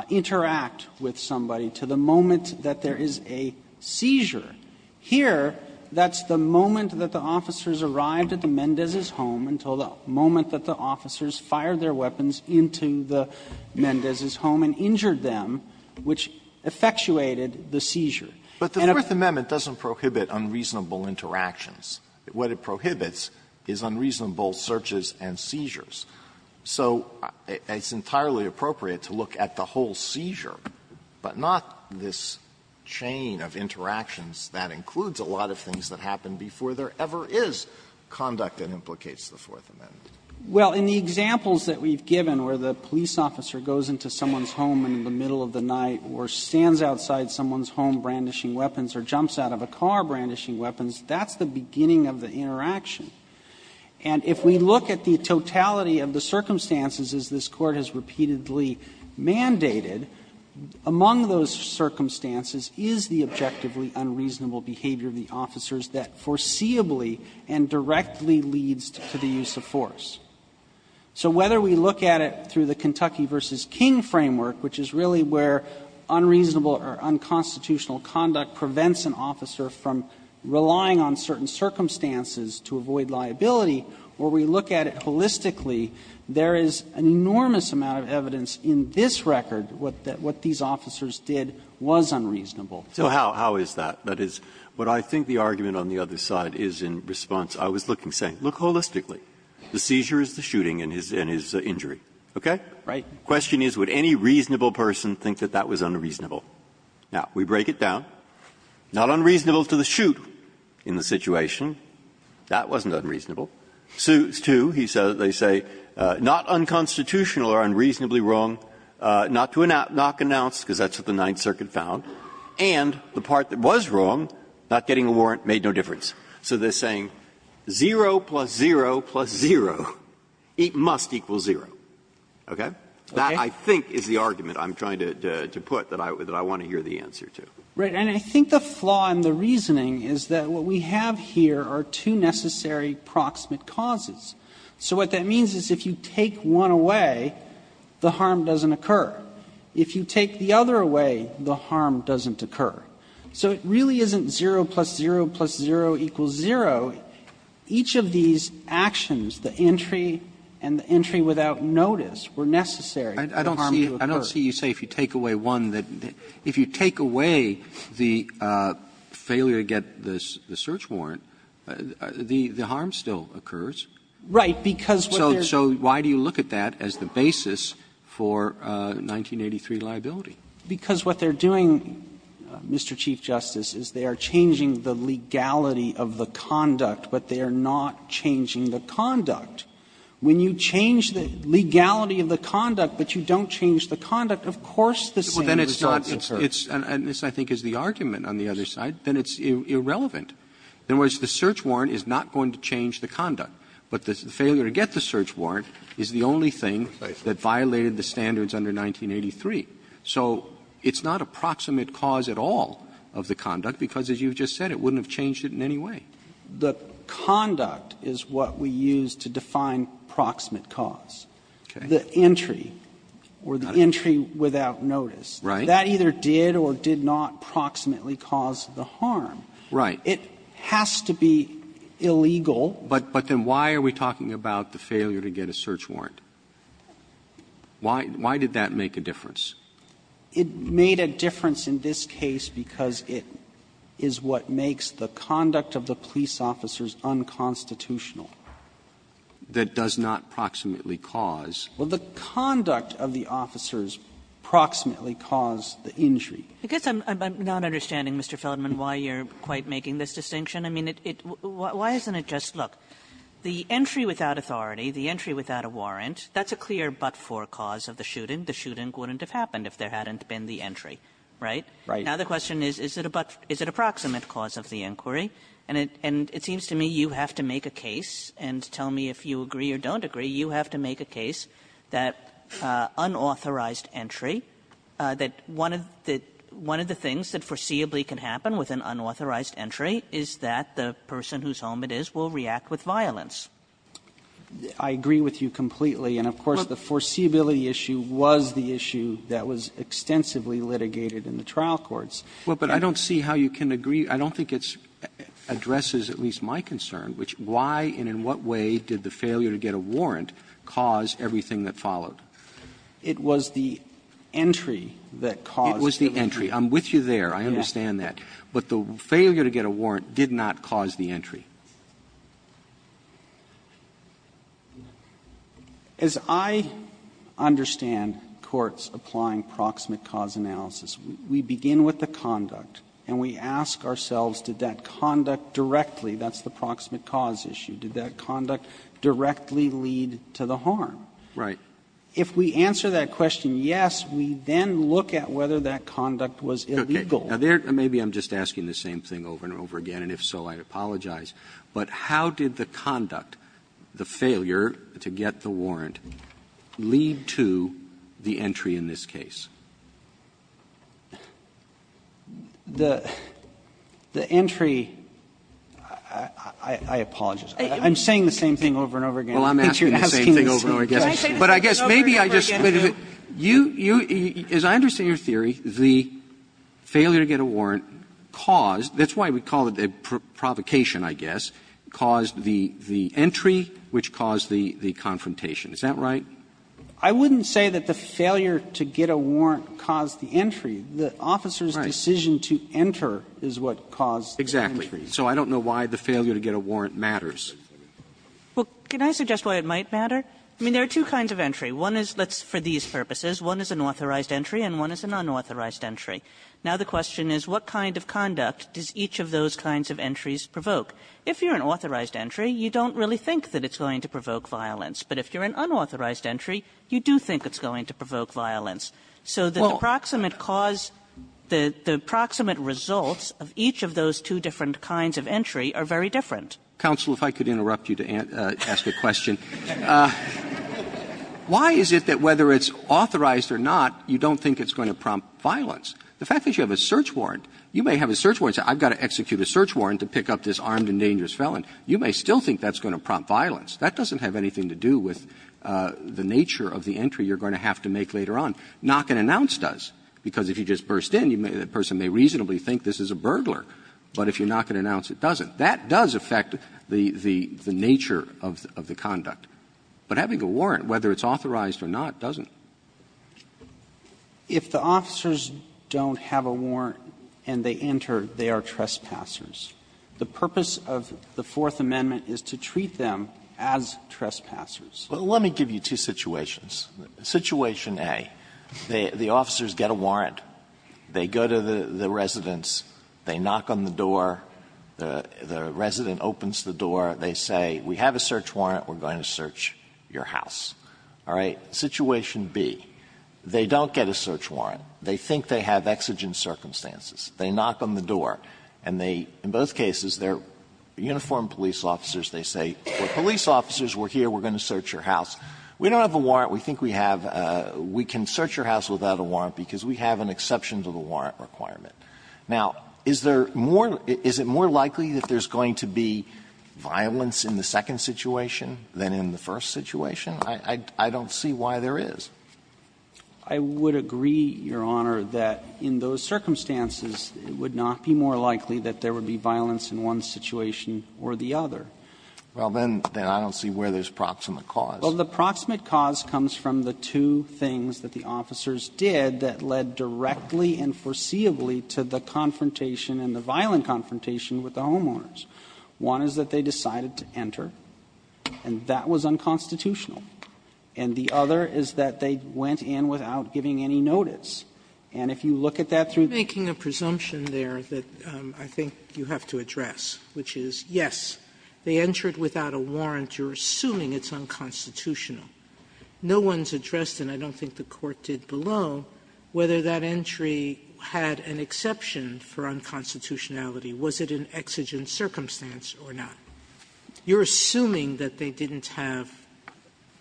interact with somebody to the moment that there is a seizure, here, that's the moment that the officers arrived at the Mendez's home until the moment that the officers fired their weapons into the Mendez's home and injured them, which effectuated the seizure. Alito, but the Fourth Amendment doesn't prohibit unreasonable interactions. What it prohibits is unreasonable searches and seizures. So it's entirely appropriate to look at the whole seizure, but not this chain of interactions that includes a lot of things that happened before there ever is conduct that implicates the Fourth Amendment. Well, in the examples that we've given where the police officer goes into someone's home in the middle of the night or stands outside someone's home brandishing weapons or jumps out of a car brandishing weapons, that's the beginning of the interaction. And if we look at the totality of the circumstances, as this Court has repeatedly mandated, among those circumstances is the objectively unreasonable behavior of the officers that foreseeably and directly leads to the use of force. So whether we look at it through the Kentucky v. King framework, which is really where unreasonable or unconstitutional conduct prevents an officer from relying on certain circumstances to avoid liability, where we look at it holistically, there is an enormous amount of evidence in this record what these officers did was unreasonable. Breyer, so how is that? That is, what I think the argument on the other side is in response. I was looking, saying, look holistically. The seizure is the shooting and his injury. Okay? Right. The question is, would any reasonable person think that that was unreasonable? Now, we break it down. Not unreasonable to the shoot in the situation. That wasn't unreasonable. Sues too. He says, they say, not unconstitutional or unreasonably wrong, not to knock an ounce, because that's what the Ninth Circuit found. And the part that was wrong, not getting a warrant, made no difference. So they're saying zero plus zero plus zero, it must equal zero. Okay? That, I think, is the argument I'm trying to put that I want to hear the answer to. Right. And I think the flaw in the reasoning is that what we have here are two necessary proximate causes. So what that means is if you take one away, the harm doesn't occur. If you take the other away, the harm doesn't occur. So it really isn't zero plus zero plus zero equals zero. Now, each of these actions, the entry and the entry without notice, were necessary for the harm to occur. I don't see you say if you take away one that the – if you take away the failure to get the search warrant, the harm still occurs. Right. Because what they're doing Mr. Chief Justice is they are changing the legality of the conduct, but they are not changing the conduct. When you change the legality of the conduct, but you don't change the conduct, of course the same results occur. Well, then it's not – it's – and this, I think, is the argument on the other side, then it's irrelevant. In other words, the search warrant is not going to change the conduct. But the failure to get the search warrant is the only thing that violated the standards under 1983. So it's not a proximate cause at all of the conduct, because as you just said, it wouldn't have changed it in any way. The conduct is what we use to define proximate cause. Okay. The entry, or the entry without notice. Right. That either did or did not proximately cause the harm. Right. It has to be illegal. But then why are we talking about the failure to get a search warrant? Why did that make a difference? It made a difference in this case because it is what makes the conduct of the police officers unconstitutional. That does not proximately cause. Well, the conduct of the officers proximately caused the injury. I guess I'm not understanding, Mr. Feldman, why you're quite making this distinction. I mean, it – why isn't it just, look, the entry without authority, the entry without a warrant, that's a clear but-for cause of the shooting. The shooting wouldn't have happened if there hadn't been the entry, right? Right. Now, the question is, is it a proximate cause of the inquiry? And it seems to me you have to make a case and tell me if you agree or don't agree, you have to make a case that unauthorized entry, that one of the things that foreseeably can happen with an unauthorized entry is that the person whose home it is will react with violence. I agree with you completely. And, of course, the foreseeability issue was the issue that was extensively litigated in the trial courts. Well, but I don't see how you can agree. I don't think it addresses at least my concern, which why and in what way did the failure to get a warrant cause everything that followed? It was the entry that caused the entry. I'm with you there. I understand that. But the failure to get a warrant did not cause the entry. As I understand courts applying proximate cause analysis, we begin with the conduct and we ask ourselves did that conduct directly, that's the proximate cause issue, did that conduct directly lead to the harm? Right. If we answer that question yes, we then look at whether that conduct was illegal. Okay. Now, there maybe I'm just asking the same thing over and over again, and if so, I apologize. But how did the conduct, the failure to get the warrant, lead to the entry in this case? The entry, I apologize. I'm saying the same thing over and over again. I think you're asking the same question. But I guess maybe I just, you, as I understand your theory, the failure to get a warrant caused, that's why we call it a provocation, I guess, caused the entry which caused the confrontation. Is that right? I wouldn't say that the failure to get a warrant caused the entry. The officer's decision to enter is what caused the entry. Exactly. So I don't know why the failure to get a warrant matters. Well, can I suggest why it might matter? I mean, there are two kinds of entry. One is, let's, for these purposes, one is an authorized entry and one is an unauthorized entry. Now, the question is, what kind of conduct does each of those kinds of entries provoke? If you're an authorized entry, you don't really think that it's going to provoke violence. But if you're an unauthorized entry, you do think it's going to provoke violence. So the approximate cause, the approximate results of each of those two different kinds of entry are very different. Counsel, if I could interrupt you to ask a question. Why is it that whether it's authorized or not, you don't think it's going to prompt violence? The fact that you have a search warrant, you may have a search warrant and say, I've got to execute a search warrant to pick up this armed and dangerous felon. You may still think that's going to prompt violence. That doesn't have anything to do with the nature of the entry you're going to have to make later on. Knock and announce does, because if you just burst in, the person may reasonably think this is a burglar. But if you knock and announce, it doesn't. That does affect the nature of the conduct. But having a warrant, whether it's authorized or not, doesn't. If the officers don't have a warrant and they enter, they are trespassers. The purpose of the Fourth Amendment is to treat them as trespassers. Let me give you two situations. Situation A, the officers get a warrant. They go to the residence. They knock on the door. The resident opens the door. They say, we have a search warrant. We're going to search your house. All right? Situation B, they don't get a search warrant. They think they have exigent circumstances. They knock on the door. And they, in both cases, they're uniformed police officers. They say, we're police officers, we're here, we're going to search your house. We don't have a warrant. We think we have a we can search your house without a warrant because we have an exception to the warrant requirement. Now, is there more, is it more likely that there's going to be violence in the second situation than in the first situation? I don't see why there is. I would agree, Your Honor, that in those circumstances, it would not be more likely that there would be violence in one situation or the other. Well, then I don't see where there's proximate cause. Well, the proximate cause comes from the two things that the officers did that led directly and foreseeably to the confrontation and the violent confrontation with the homeowners. One is that they decided to enter, and that was unconstitutional. And the other is that they went in without giving any notice. And if you look at that through the case, I don't see where there's proximate Sotomayor, making a presumption there that I think you have to address, which is, yes, they entered without a warrant, you're assuming it's unconstitutional. No one's addressed, and I don't think the Court did below, whether that entry had an exception for unconstitutionality. Was it an exigent circumstance or not? You're assuming that they didn't have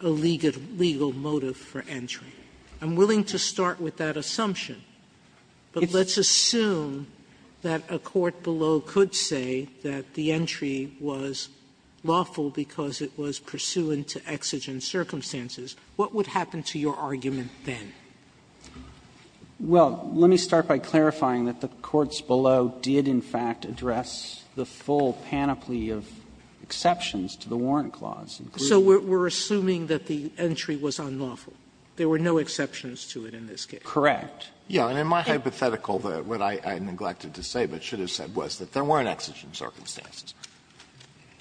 a legal motive for entry. I'm willing to start with that assumption, but let's assume that a court below could say that the entry was lawful because it was pursuant to exigent circumstances. What would happen to your argument then? Well, let me start by clarifying that the courts below did, in fact, address the full panoply of exceptions to the Warrant Clause. So we're assuming that the entry was unlawful, there were no exceptions to it in this case? Correct. Yes. And in my hypothetical, what I neglected to say but should have said was that there weren't exigent circumstances.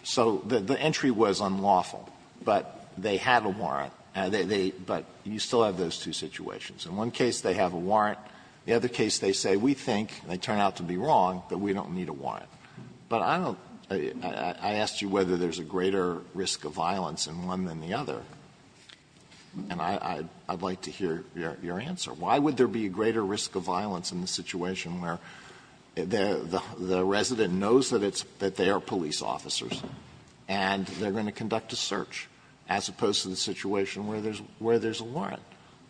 So the entry was unlawful, but they had a warrant, but you still have those two situations. In one case they have a warrant, in the other case they say, we think, and they turn out to be wrong, that we don't need a warrant. But I don't – I asked you whether there's a greater risk of violence in one than the other, and I'd like to hear your answer. Why would there be a greater risk of violence in the situation where the resident knows that it's – that they are police officers and they're going to conduct a search, as opposed to the situation where there's a warrant?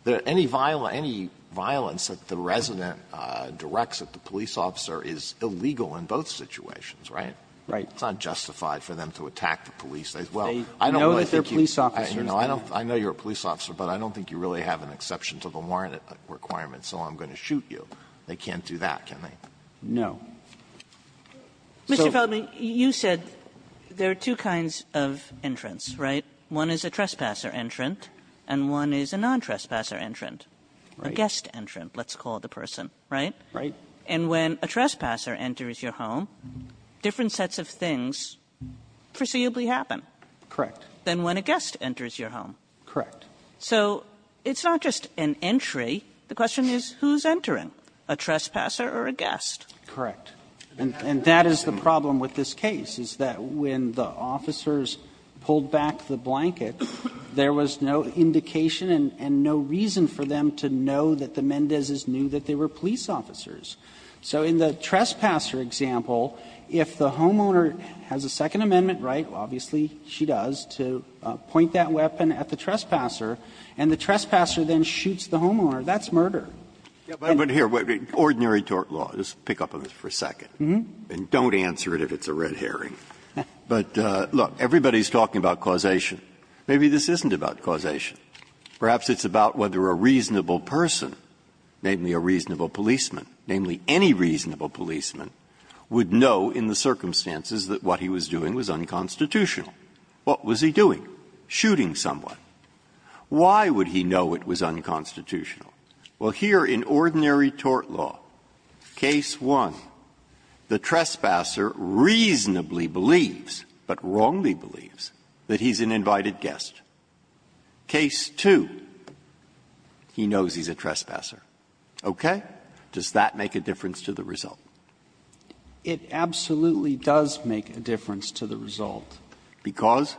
Any violence that the resident directs at the police officer is illegal in both situations. Right? Right. It's not justified for them to attack the police. They – well, I don't know if they're police officers. No, I don't – I know you're a police officer, but I don't think you really have an exception to the warrant requirement, so I'm going to shoot you. They can't do that, can they? So they're not going to do that. Mr. Feldman, you said there are two kinds of entrants, right? One is a trespasser entrant and one is a non-trespasser entrant, a guest entrant, let's call it a person, right? Right. And when a trespasser enters your home, different sets of things foreseeably happen. Correct. Than when a guest enters your home. Correct. So it's not just an entry. The question is who's entering, a trespasser or a guest? Correct. And that is the problem with this case, is that when the officers pulled back the blanket, there was no indication and no reason for them to know that the Mendezes knew that they were police officers. So in the trespasser example, if the homeowner has a Second Amendment right, obviously she does, to point that weapon at the trespasser, and the trespasser then shoots the homeowner, that's murder. But here, ordinary tort law, just pick up on this for a second, and don't answer it if it's a red herring. But, look, everybody's talking about causation. Maybe this isn't about causation. Perhaps it's about whether a reasonable person, namely a reasonable policeman, namely any reasonable policeman, would know in the circumstances that what he was doing was unconstitutional. What was he doing? Shooting someone. Why would he know it was unconstitutional? Well, here in ordinary tort law, case 1, the trespasser reasonably believes, but wrongly believes, that he's an invited guest. Case 2, he knows he's a trespasser. Okay? Does that make a difference to the result? It absolutely does make a difference to the result. Because?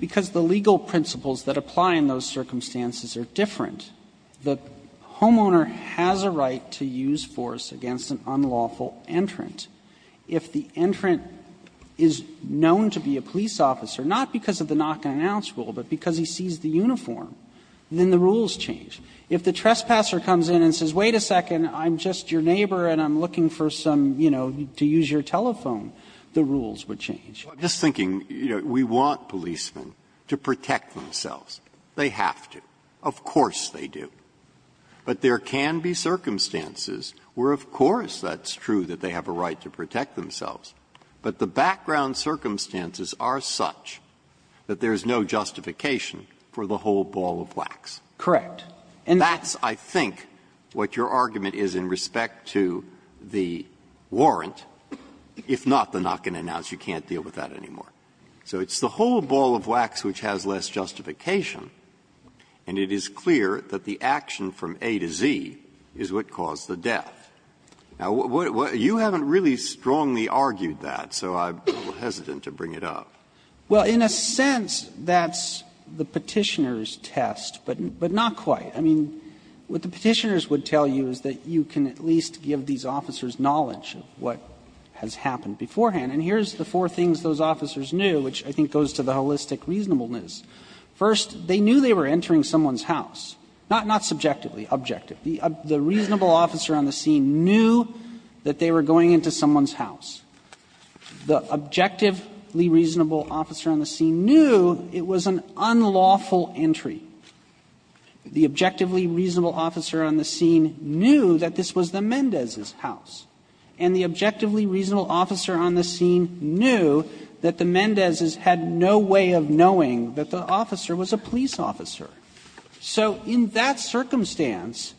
Because the legal principles that apply in those circumstances are different. The homeowner has a right to use force against an unlawful entrant. If the entrant is known to be a police officer, not because of the knock-and-announce rule, but because he sees the uniform, then the rules change. If the trespasser comes in and says, wait a second, I'm just your neighbor and I'm looking for some, you know, to use your telephone, the rules would change. Breyer's just thinking, you know, we want policemen to protect themselves. They have to. Of course they do. But there can be circumstances where, of course, that's true that they have a right to protect themselves, but the background circumstances are such that there is no justification for the whole ball of wax. Correct. And that's, I think, what your argument is in respect to the warrant, if not the knock-and-announce, you can't deal with that anymore. So it's the whole ball of wax which has less justification, and it is clear that the action from A to Z is what caused the death. Now, you haven't really strongly argued that, so I'm a little hesitant to bring it up. Well, in a sense, that's the Petitioner's test, but not quite. I mean, what the Petitioner's would tell you is that you can at least give these officers knowledge of what has happened beforehand. And here's the four things those officers knew, which I think goes to the holistic reasonableness. First, they knew they were entering someone's house, not subjectively, but objective. The reasonable officer on the scene knew that they were going into someone's house. The objectively reasonable officer on the scene knew it was an unlawful entry. The objectively reasonable officer on the scene knew that this was the Mendez's house. And the objectively reasonable officer on the scene knew that the Mendez had no way of knowing that the officer was a police officer. So in that circumstance,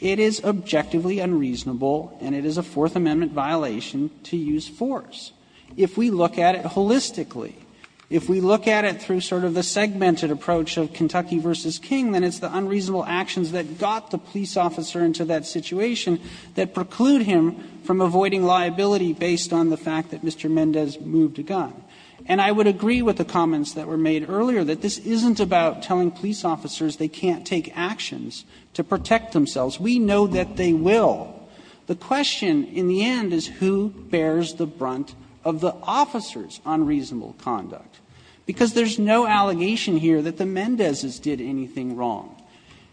it is objectively unreasonable and it is a Fourth Amendment violation to use force. If we look at it holistically, if we look at it through sort of the segmented approach of Kentucky v. King, then it's the unreasonable actions that got the police officer into that situation that preclude him from avoiding liability based on the fact that Mr. Mendez moved a gun. And I would agree with the comments that were made earlier that this isn't about telling police officers they can't take actions to protect themselves. We know that they will. The question in the end is who bears the brunt of the officer's unreasonable conduct, because there's no allegation here that the Mendez's did anything wrong.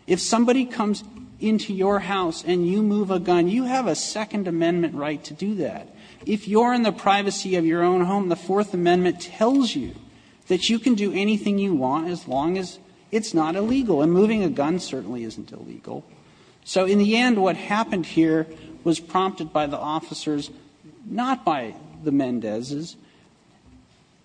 If somebody comes into your house and you move a gun, you have a Second Amendment right to do that. If you're in the privacy of your own home, the Fourth Amendment tells you that you can do anything you want as long as it's not illegal, and moving a gun certainly isn't illegal. So in the end, what happened here was prompted by the officers, not by the Mendez's.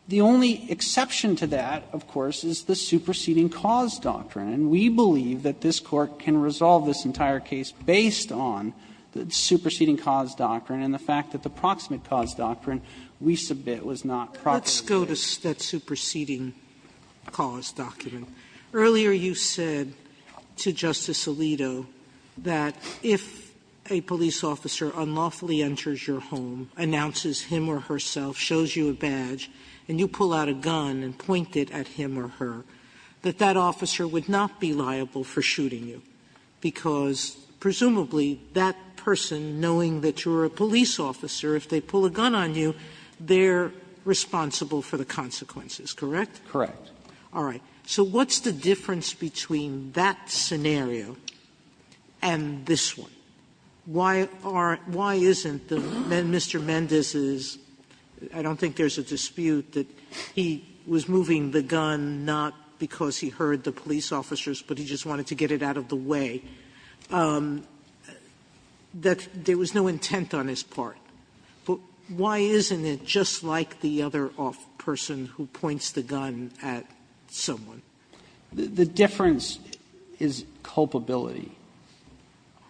The only exception to that, of course, is the superseding cause doctrine, and we believe that this Court can resolve this entire case based on the superseding cause doctrine and the fact that the proximate cause doctrine we submit was not properly stated. Sotomayor, let's go to that superseding cause doctrine. Earlier you said to Justice Alito that if a police officer unlawfully enters your home, announces him or herself, shows you a badge, and you pull out a gun and point it at him or her, that that officer would not be liable for shooting you, because presumably that person, knowing that you're a police officer, if they pull a gun on you, they're responsible for the consequences, correct? Correct. All right. So what's the difference between that scenario and this one? Why aren't the men Mr. Mendez's – I don't think there's a dispute that he was moving the gun not because he heard the police officers, but he just wanted to get it out of the way. That there was no intent on his part. But why isn't it just like the other person who points the gun at someone? The difference is culpability.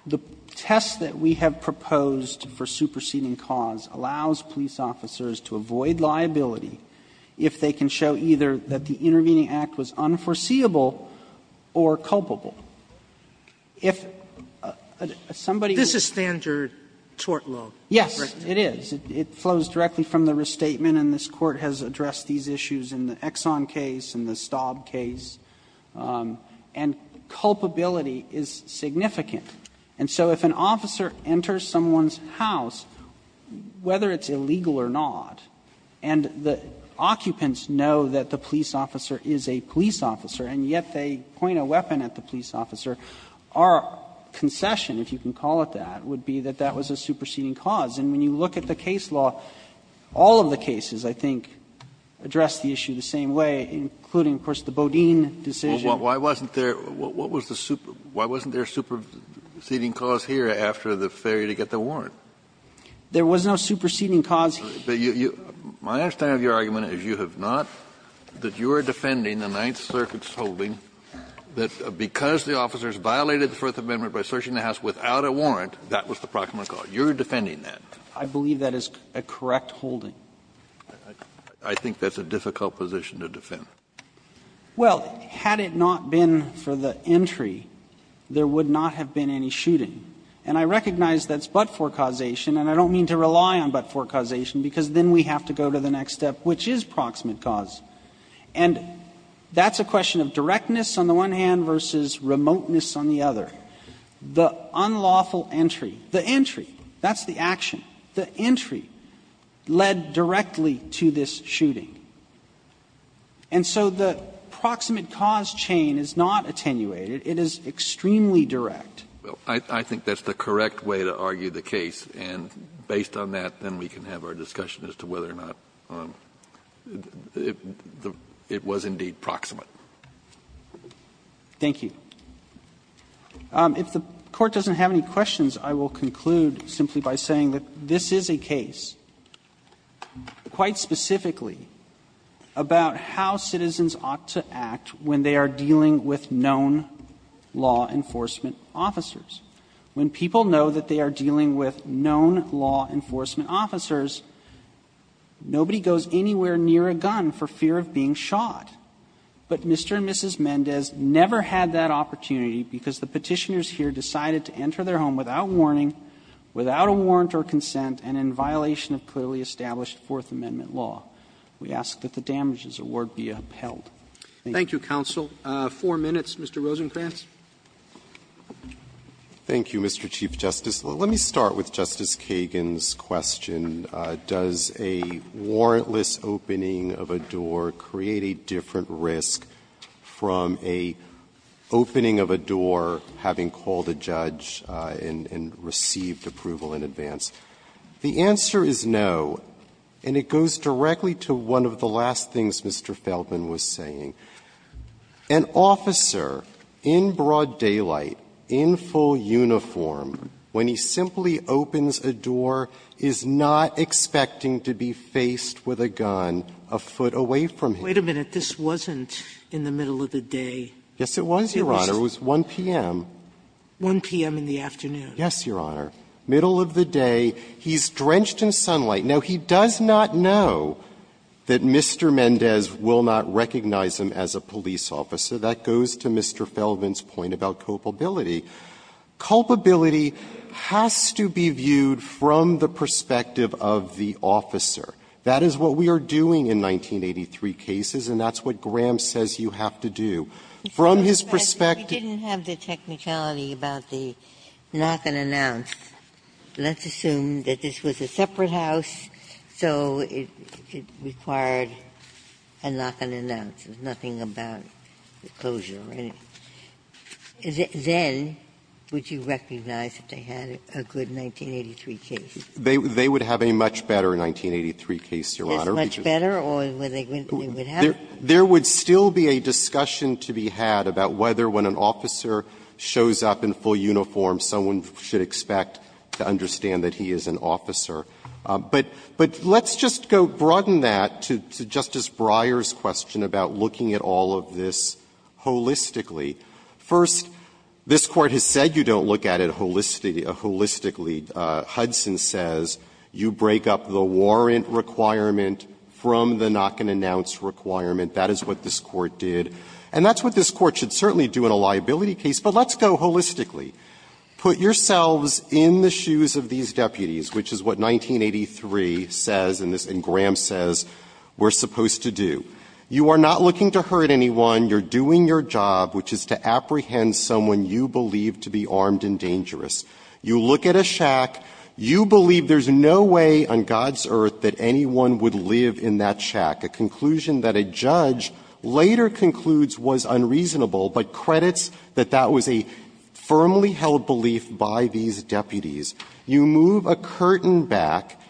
The test that we have proposed for superseding cause allows police officers to avoid liability if they can show either that the intervening act was unforeseeable or culpable. If somebody was to do that, it would be unforeseeable, correct? This is standard tort law. Yes, it is. It flows directly from the restatement, and this Court has addressed these issues in the Exxon case, in the Staub case. And culpability is significant. And so if an officer enters someone's house, whether it's illegal or not, and the occupants know that the police officer is a police officer, and yet they point a weapon at the police officer, our concession, if you can call it that, would be that that was a superseding cause. And when you look at the case law, all of the cases, I think, address the issue the same way, including, of course, the Bodine decision. Kennedy, why wasn't there a superseding cause here after the failure to get the warrant? There was no superseding cause here. My understanding of your argument is you have not, that you are defending the Ninth Amendment because the officers violated the Fourth Amendment by searching the house without a warrant, that was the proximate cause. You're defending that. I believe that is a correct holding. I think that's a difficult position to defend. Well, had it not been for the entry, there would not have been any shooting. And I recognize that's but-for causation, and I don't mean to rely on but-for causation, because then we have to go to the next step, which is proximate cause. And that's a question of directness on the one hand versus remoteness on the other. The unlawful entry, the entry, that's the action, the entry led directly to this shooting. And so the proximate cause chain is not attenuated. It is extremely direct. I think that's the correct way to argue the case, and based on that, then we can have a very broad discussion as to whether or not it was indeed proximate. Thank you. If the Court doesn't have any questions, I will conclude simply by saying that this is a case, quite specifically, about how citizens ought to act when they are dealing with known law enforcement officers. When people know that they are dealing with known law enforcement officers, nobody goes anywhere near a gun for fear of being shot. But Mr. and Mrs. Mendez never had that opportunity because the Petitioners here decided to enter their home without warning, without a warrant or consent, and in violation of clearly established Fourth Amendment law. We ask that the damages award be upheld. Thank you. Roberts. Roberts. Thank you, Mr. Chief Justice. Let me start with Justice Kagan's question, does a warrantless opening of a door create a different risk from a opening of a door having called a judge and received approval in advance? The answer is no, and it goes directly to one of the last things Mr. Feldman was saying. An officer in broad daylight, in full uniform, when he simply opens a door, is not expecting to be faced with a gun a foot away from him. Wait a minute. This wasn't in the middle of the day. Yes, it was, Your Honor. It was 1 p.m. 1 p.m. in the afternoon. Yes, Your Honor. Middle of the day. He's drenched in sunlight. Now, he does not know that Mr. Mendez will not recognize him as a police officer. That goes to Mr. Feldman's point about culpability. Culpability has to be viewed from the perspective of the officer. That is what we are doing in 1983 cases, and that's what Graham says you have to do. From his perspective he didn't have the technicality about the knock and announce. Ginsburg. Let's assume that this was a separate house, so it required a knock and announce. There's nothing about the closure or anything. Then, would you recognize that they had a good 1983 case? They would have a much better 1983 case, Your Honor. This much better, or would they have? There would still be a discussion to be had about whether when an officer shows up in full uniform, someone should expect to understand that he is an officer. But let's just go broaden that to Justice Breyer's question about looking at all of this holistically. First, this Court has said you don't look at it holistically. Hudson says you break up the warrant requirement from the knock and announce requirement. That is what this Court did. And that's what this Court should certainly do in a liability case, but let's go holistically. Put yourselves in the shoes of these deputies, which is what 1983 says and this – and Graham says we're supposed to do. You are not looking to hurt anyone. You're doing your job, which is to apprehend someone you believe to be armed and dangerous. You look at a shack. You believe there's no way on God's earth that anyone would live in that shack, a conclusion that a judge later concludes was unreasonable, but credits that that was a firmly held belief by these deputies. You move a curtain back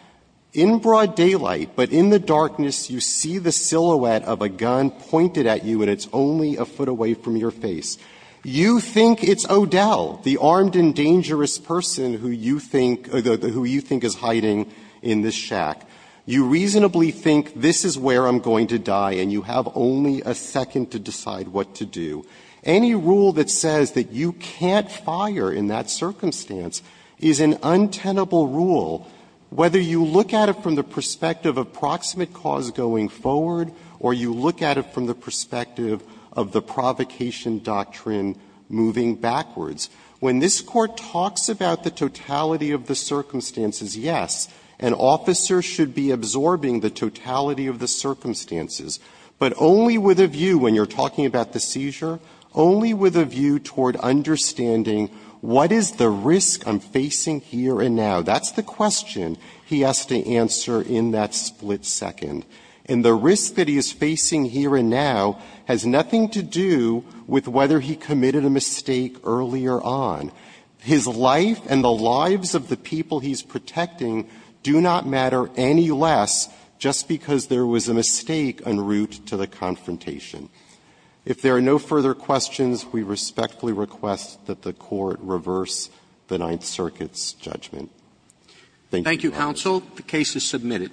in broad daylight, but in the darkness you see the silhouette of a gun pointed at you, and it's only a foot away from your face. You think it's O'Dell, the armed and dangerous person who you think – who you think is hiding in this shack. You reasonably think this is where I'm going to die, and you have only a second to decide what to do. Any rule that says that you can't fire in that circumstance is an untenable rule, whether you look at it from the perspective of proximate cause going forward or you look at it from the perspective of the provocation doctrine moving backwards. When this Court talks about the totality of the circumstances, yes, an officer should be absorbing the totality of the circumstances, but only with a view – when you're talking about the seizure – only with a view toward understanding what is the risk I'm facing here and now. That's the question he has to answer in that split second. And the risk that he is facing here and now has nothing to do with whether he committed a mistake earlier on. His life and the lives of the people he's protecting do not matter any less just because there was a mistake en route to the confrontation. If there are no further questions, we respectfully request that the Court reverse the Ninth Circuit's judgment. Thank you, counsel. Roberts. Thank you, counsel. The case is submitted.